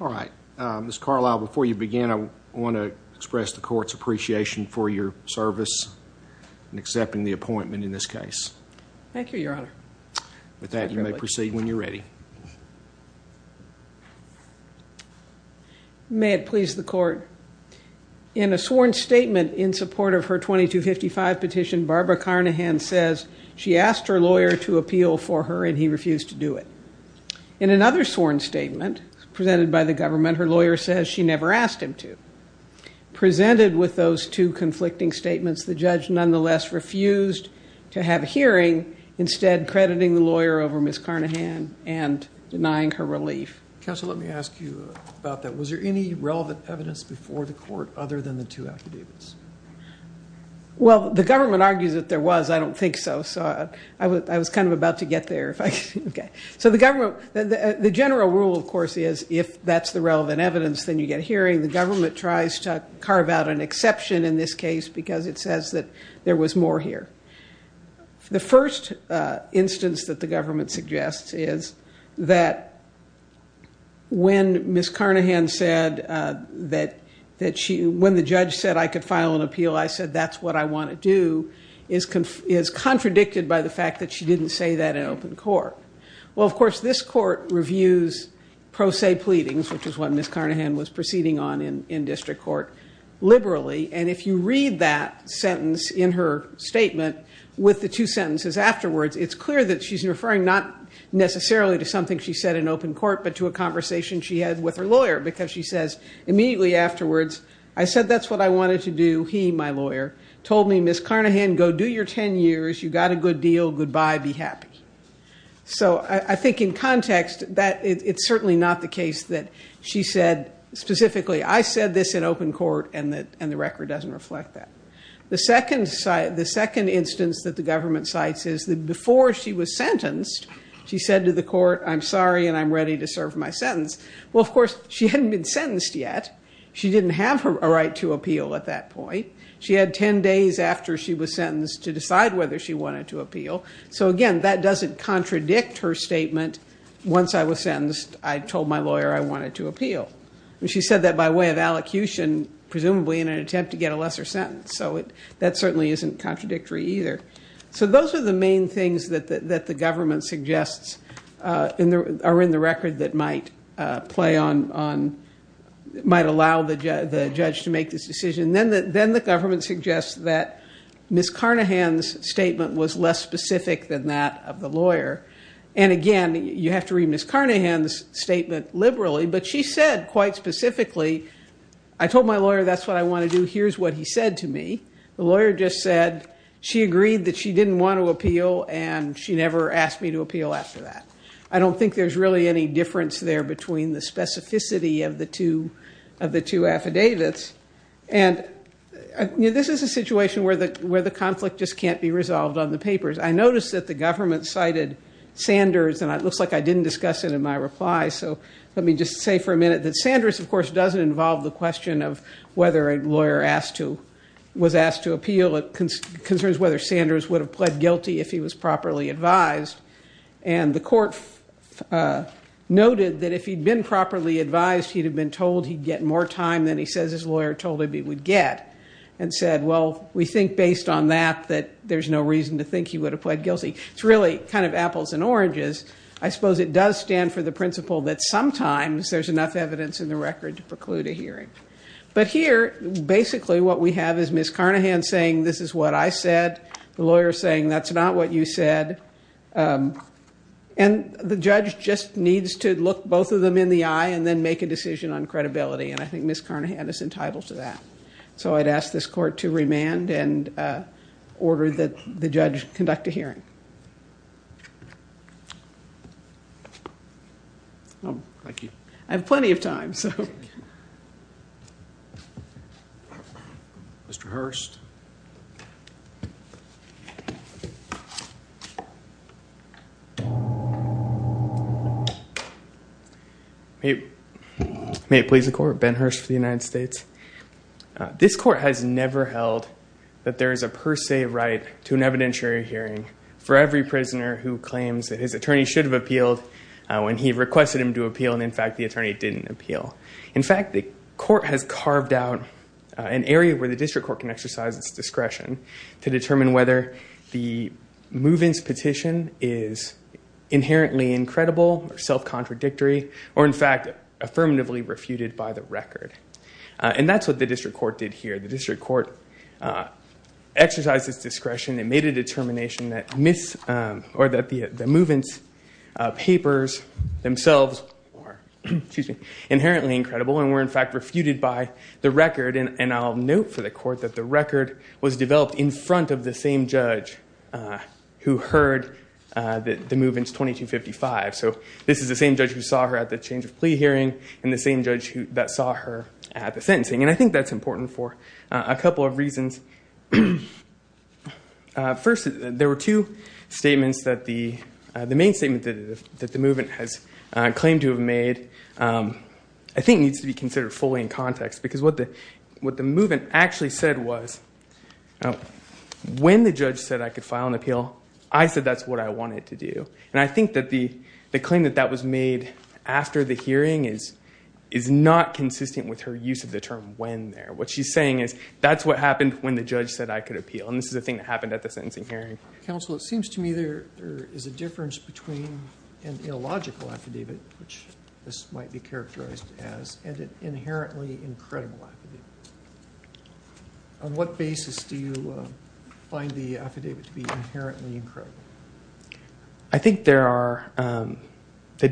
All right, Ms. Carlisle, before you begin, I want to express the court's appreciation for your service in accepting the appointment in this case. Thank you, Your Honor. With that, you may proceed when you're ready. May it please the court. In a sworn statement in support of her 2255 petition, Barbara Carnahan says she asked her lawyer to appeal for her and he refused to do it. In another sworn statement presented by the government, her lawyer says she never asked him to. Presented with those two conflicting statements, the judge nonetheless refused to have a hearing, instead crediting the lawyer over Ms. Carnahan and denying her relief. Counsel, let me ask you about that. Was there any relevant evidence before the court other than the two affidavits? Well, the government argues that there was. I don't think so, so I was kind of about to get there. So the general rule, of course, is if that's the relevant evidence, then you get a hearing. The government tries to carve out an exception in this case because it says that there was more here. The first instance that the government suggests is that when Ms. Carnahan said that she – when the judge said I could file an appeal, I said that's what I want to do, is contradicted by the fact that she didn't say that in open court. Well, of course, this court reviews pro se pleadings, which is what Ms. Carnahan was proceeding on in district court, liberally. And if you read that sentence in her statement with the two sentences afterwards, it's clear that she's referring not necessarily to something she said in open court, but to a conversation she had with her lawyer because she says immediately afterwards, I said that's what I wanted to do. He, my lawyer, told me, Ms. Carnahan, go do your 10 years. You got a good deal. Goodbye. Be happy. So I think in context that it's certainly not the case that she said specifically, I said this in open court, and the record doesn't reflect that. The second instance that the government cites is that before she was sentenced, she said to the court, I'm sorry, and I'm ready to serve my sentence. Well, of course, she hadn't been sentenced yet. She didn't have a right to appeal at that point. She had 10 days after she was sentenced to decide whether she wanted to appeal. So, again, that doesn't contradict her statement, once I was sentenced, I told my lawyer I wanted to appeal. She said that by way of allocution, presumably in an attempt to get a lesser sentence. So that certainly isn't contradictory either. So those are the main things that the government suggests are in the record that might play on, might allow the judge to make this decision. Then the government suggests that Ms. Carnahan's statement was less specific than that of the lawyer. And, again, you have to read Ms. Carnahan's statement liberally, but she said quite specifically, I told my lawyer that's what I want to do, here's what he said to me. The lawyer just said she agreed that she didn't want to appeal, and she never asked me to appeal after that. I don't think there's really any difference there between the specificity of the two affidavits. And this is a situation where the conflict just can't be resolved on the papers. I noticed that the government cited Sanders, and it looks like I didn't discuss it in my reply, so let me just say for a minute that Sanders, of course, doesn't involve the question of whether a lawyer was asked to appeal. It concerns whether Sanders would have pled guilty if he was properly advised. And the court noted that if he'd been properly advised, he'd have been told he'd get more time than he says his lawyer told him he would get, and said, well, we think based on that that there's no reason to think he would have pled guilty. It's really kind of apples and oranges. I suppose it does stand for the principle that sometimes there's enough evidence in the record to preclude a hearing. But here, basically what we have is Ms. Carnahan saying this is what I said, the lawyer saying that's not what you said, and the judge just needs to look both of them in the eye and then make a decision on credibility, and I think Ms. Carnahan is entitled to that. So I'd ask this court to remand and order the judge conduct a hearing. I have plenty of time, so. Mr. Hurst. May it please the court. Ben Hurst for the United States. This court has never held that there is a per se right to an evidentiary hearing for every prisoner who claims that his attorney should have appealed when he requested him to appeal and, in fact, the attorney didn't appeal. In fact, the court has carved out an area where the district court can exercise its discretion to determine whether the move-ins petition is inherently incredible or self-contradictory or, in fact, affirmatively refuted by the record. And that's what the district court did here. The district court exercised its discretion. It made a determination that the move-ins papers themselves were inherently incredible and were, in fact, refuted by the record. And I'll note for the court that the record was developed in front of the same judge who heard the move-ins 2255. So this is the same judge who saw her at the change of plea hearing and the same judge that saw her at the sentencing. And I think that's important for a couple of reasons. First, there were two statements that the main statement that the move-in has claimed to have made, I think, needs to be considered fully in context because what the move-in actually said was, when the judge said I could file an appeal, I said that's what I wanted to do. And I think that the claim that that was made after the hearing is not consistent with her use of the term when there. What she's saying is that's what happened when the judge said I could appeal, and this is a thing that happened at the sentencing hearing. Counsel, it seems to me there is a difference between an illogical affidavit, which this might be characterized as, and an inherently incredible affidavit. On what basis do you find the affidavit to be inherently incredible? I think the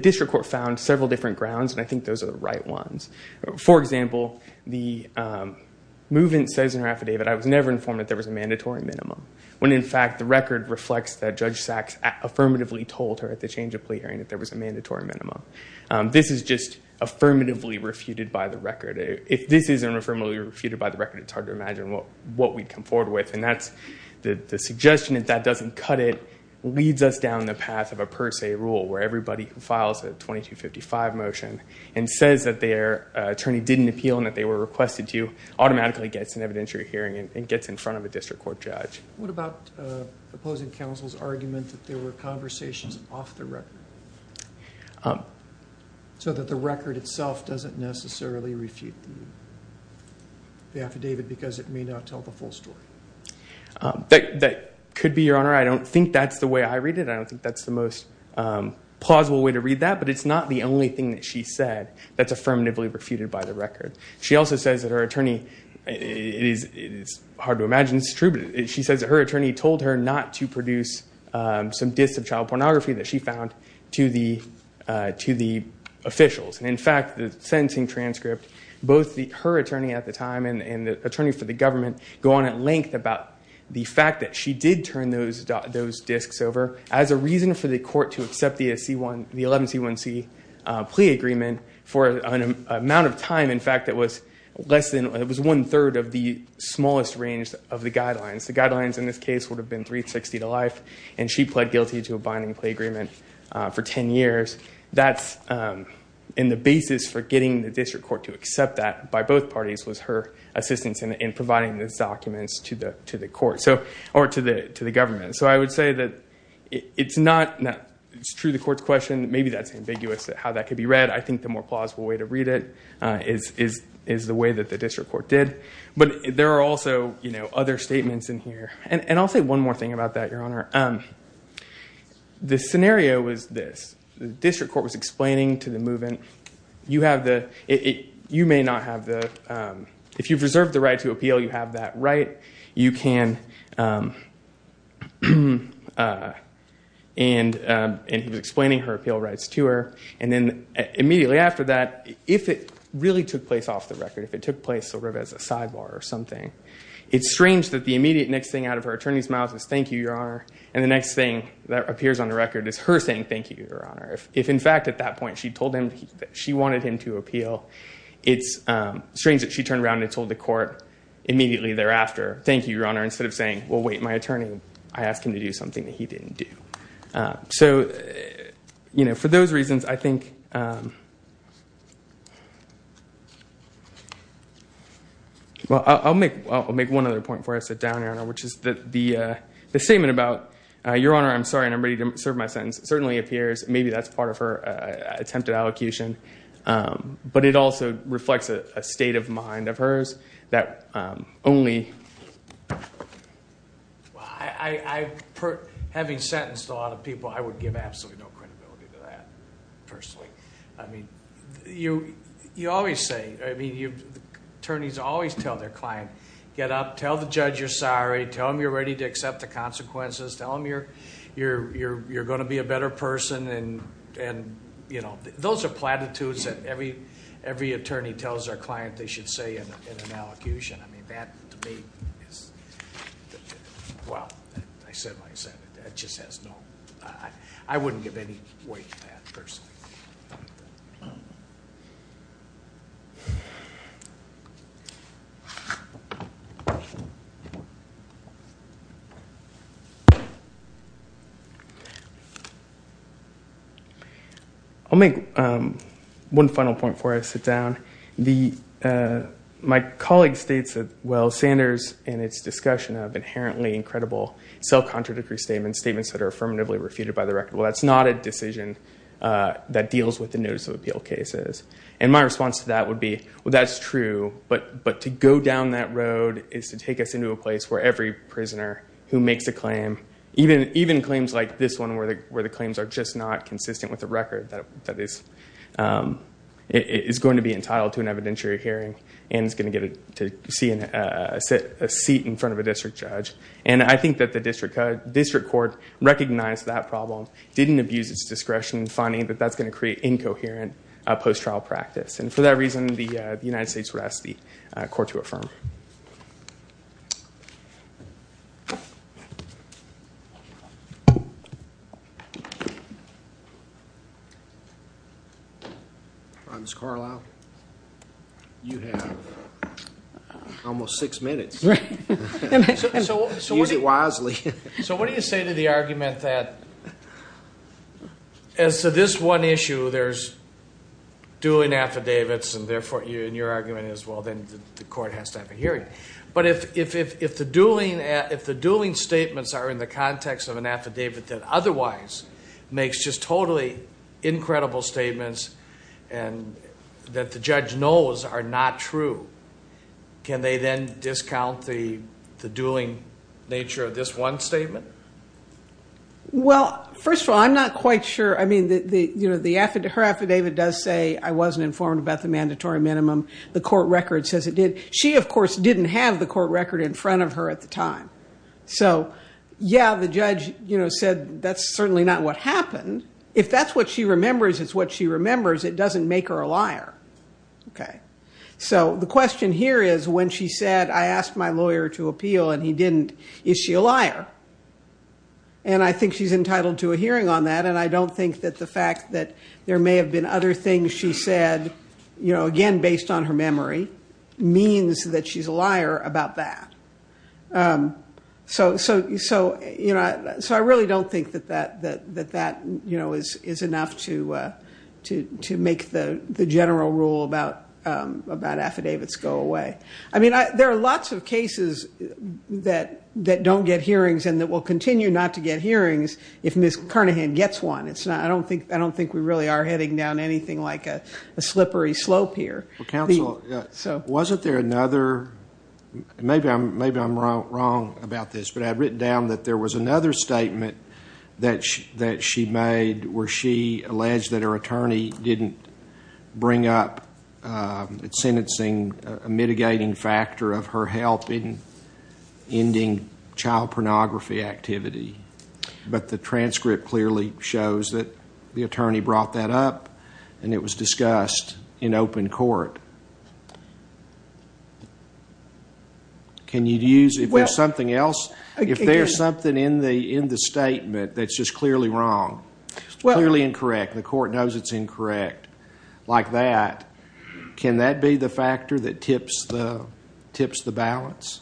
district court found several different grounds, and I think those are the right ones. For example, the move-in says in her affidavit, I was never informed that there was a mandatory minimum, when, in fact, the record reflects that Judge Sachs affirmatively told her at the change of plea hearing that there was a mandatory minimum. This is just affirmatively refuted by the record. If this isn't affirmatively refuted by the record, it's hard to imagine what we'd come forward with. The suggestion that that doesn't cut it leads us down the path of a per se rule, where everybody who files a 2255 motion and says that their attorney didn't appeal and that they were requested to automatically gets an evidentiary hearing and gets in front of a district court judge. What about opposing counsel's argument that there were conversations off the record, so that the record itself doesn't necessarily refute the affidavit because it may not tell the full story? That could be, Your Honor. I don't think that's the way I read it. I don't think that's the most plausible way to read that. But it's not the only thing that she said that's affirmatively refuted by the record. She also says that her attorney, it's hard to imagine this is true, but she says that her attorney told her not to produce some disks of child pornography that she found to the officials. In fact, the sentencing transcript, both her attorney at the time and the attorney for the government go on at length about the fact that she did turn those disks over as a reason for the court to accept the 11C1C plea agreement for an amount of time, in fact, that was one-third of the smallest range of the guidelines. The guidelines in this case would have been 360 to life. And she pled guilty to a binding plea agreement for 10 years. And the basis for getting the district court to accept that by both parties was her assistance in providing those documents to the government. So I would say that it's true the court's question. Maybe that's ambiguous how that could be read. I think the more plausible way to read it is the way that the district court did. But there are also other statements in here. And I'll say one more thing about that, Your Honor. The scenario was this. The district court was explaining to the move-in, you may not have the, if you've reserved the right to appeal, you have that right. You can, and he was explaining her appeal rights to her. And then immediately after that, if it really took place off the record, if it took place sort of as a sidebar or something, it's strange that the immediate next thing out of her attorney's mouth is, thank you, Your Honor. And the next thing that appears on the record is her saying, thank you, Your Honor. If, in fact, at that point she told him that she wanted him to appeal, it's strange that she turned around and told the court immediately thereafter, thank you, Your Honor, instead of saying, well, wait, my attorney, I asked him to do something that he didn't do. So, you know, for those reasons, I think, well, I'll make one other point before I sit down, Your Honor, which is that the statement about, Your Honor, I'm sorry, and I'm ready to serve my sentence certainly appears, maybe that's part of her attempt at allocution. But it also reflects a state of mind of hers that only, well, having sentenced a lot of people, I would give absolutely no credibility to that, personally. I mean, you always say, I mean, attorneys always tell their client, get up, tell the judge you're sorry, tell him you're ready to accept the consequences, tell him you're going to be a better person, and, you know, those are platitudes that every attorney tells their client they should say in an allocution. I mean, that to me is, well, I said what I said. It just has no, I wouldn't give any weight to that, personally. I'll make one final point before I sit down. My colleague states that, well, Sanders in its discussion of inherently incredible self-contradictory statements, statements that are affirmatively refuted by the record, well, that's not a decision that deals with the notice of appeal cases. And my response to that would be, well, that's true, but to go down that road is to take us into a place where every prisoner who makes a claim, even claims like this one where the claims are just not entitled to an evidentiary hearing and is going to get to see a seat in front of a district judge. And I think that the district court recognized that problem, didn't abuse its discretion in finding that that's going to create incoherent post-trial practice. And for that reason, the United States would ask the court to affirm. All right. Ms. Carlisle, you have almost six minutes. Use it wisely. So what do you say to the argument that as to this one issue, there's dueling affidavits and therefore your argument is, well, then the court has to have a hearing. But if the dueling statements are in the context of an affidavit that otherwise makes just totally incredible statements and that the judge knows are not true, can they then discount the dueling nature of this one statement? Well, first of all, I'm not quite sure. I mean, her affidavit does say I wasn't informed about the mandatory minimum. The court record says it did. She, of course, didn't have the court record in front of her at the time. So, yeah, the judge said that's certainly not what happened. If that's what she remembers, it's what she remembers. It doesn't make her a liar. Okay. So the question here is when she said I asked my lawyer to appeal and he didn't, is she a liar? And I think she's entitled to a hearing on that. And I don't think that the fact that there may have been other things she said, again, based on her memory, means that she's a liar about that. So I really don't think that that is enough to make the general rule about affidavits go away. I mean, there are lots of cases that don't get hearings and that will continue not to get hearings if Ms. Carnahan gets one. I don't think we really are heading down anything like a slippery slope here. Counsel, wasn't there another, maybe I'm wrong about this, but I've written down that there was another statement that she made where she alleged that her attorney didn't bring up sentencing, a mitigating factor of her help in ending child pornography activity. But the transcript clearly shows that the attorney brought that up and it was discussed in open court. Can you use it? If there's something else, if there's something in the statement that's just clearly wrong, clearly incorrect, the court knows it's incorrect, like that, can that be the factor that tips the balance?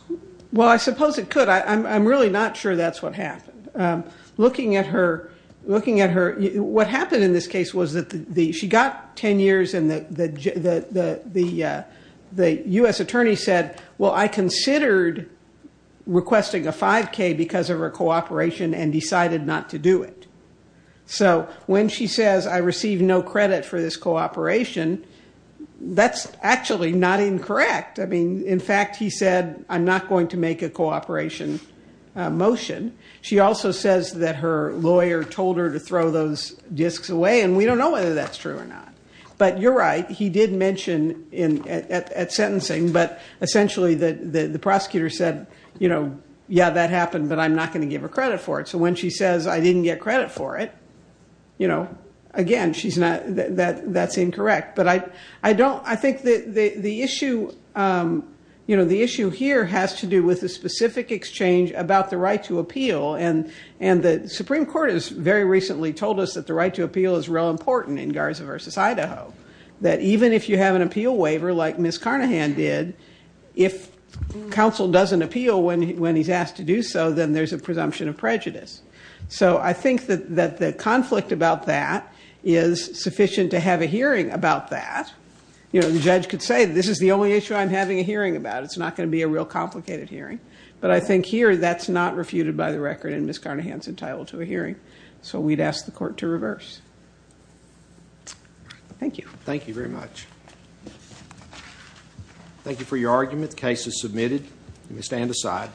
Well, I suppose it could. But I'm really not sure that's what happened. Looking at her, what happened in this case was that she got 10 years and the U.S. attorney said, well, I considered requesting a 5K because of her cooperation and decided not to do it. So when she says I received no credit for this cooperation, that's actually not incorrect. In fact, he said, I'm not going to make a cooperation motion. She also says that her lawyer told her to throw those discs away, and we don't know whether that's true or not. But you're right, he did mention at sentencing, but essentially the prosecutor said, yeah, that happened, but I'm not going to give her credit for it. So when she says I didn't get credit for it, again, that's incorrect. I think the issue here has to do with the specific exchange about the right to appeal, and the Supreme Court has very recently told us that the right to appeal is real important in Garza v. Idaho, that even if you have an appeal waiver like Ms. Carnahan did, if counsel doesn't appeal when he's asked to do so, then there's a presumption of prejudice. So I think that the conflict about that is sufficient to have a hearing about that. The judge could say this is the only issue I'm having a hearing about. It's not going to be a real complicated hearing. But I think here that's not refuted by the record, and Ms. Carnahan's entitled to a hearing. So we'd ask the court to reverse. Thank you. Thank you very much. Thank you for your argument. The case is submitted. You may stand aside.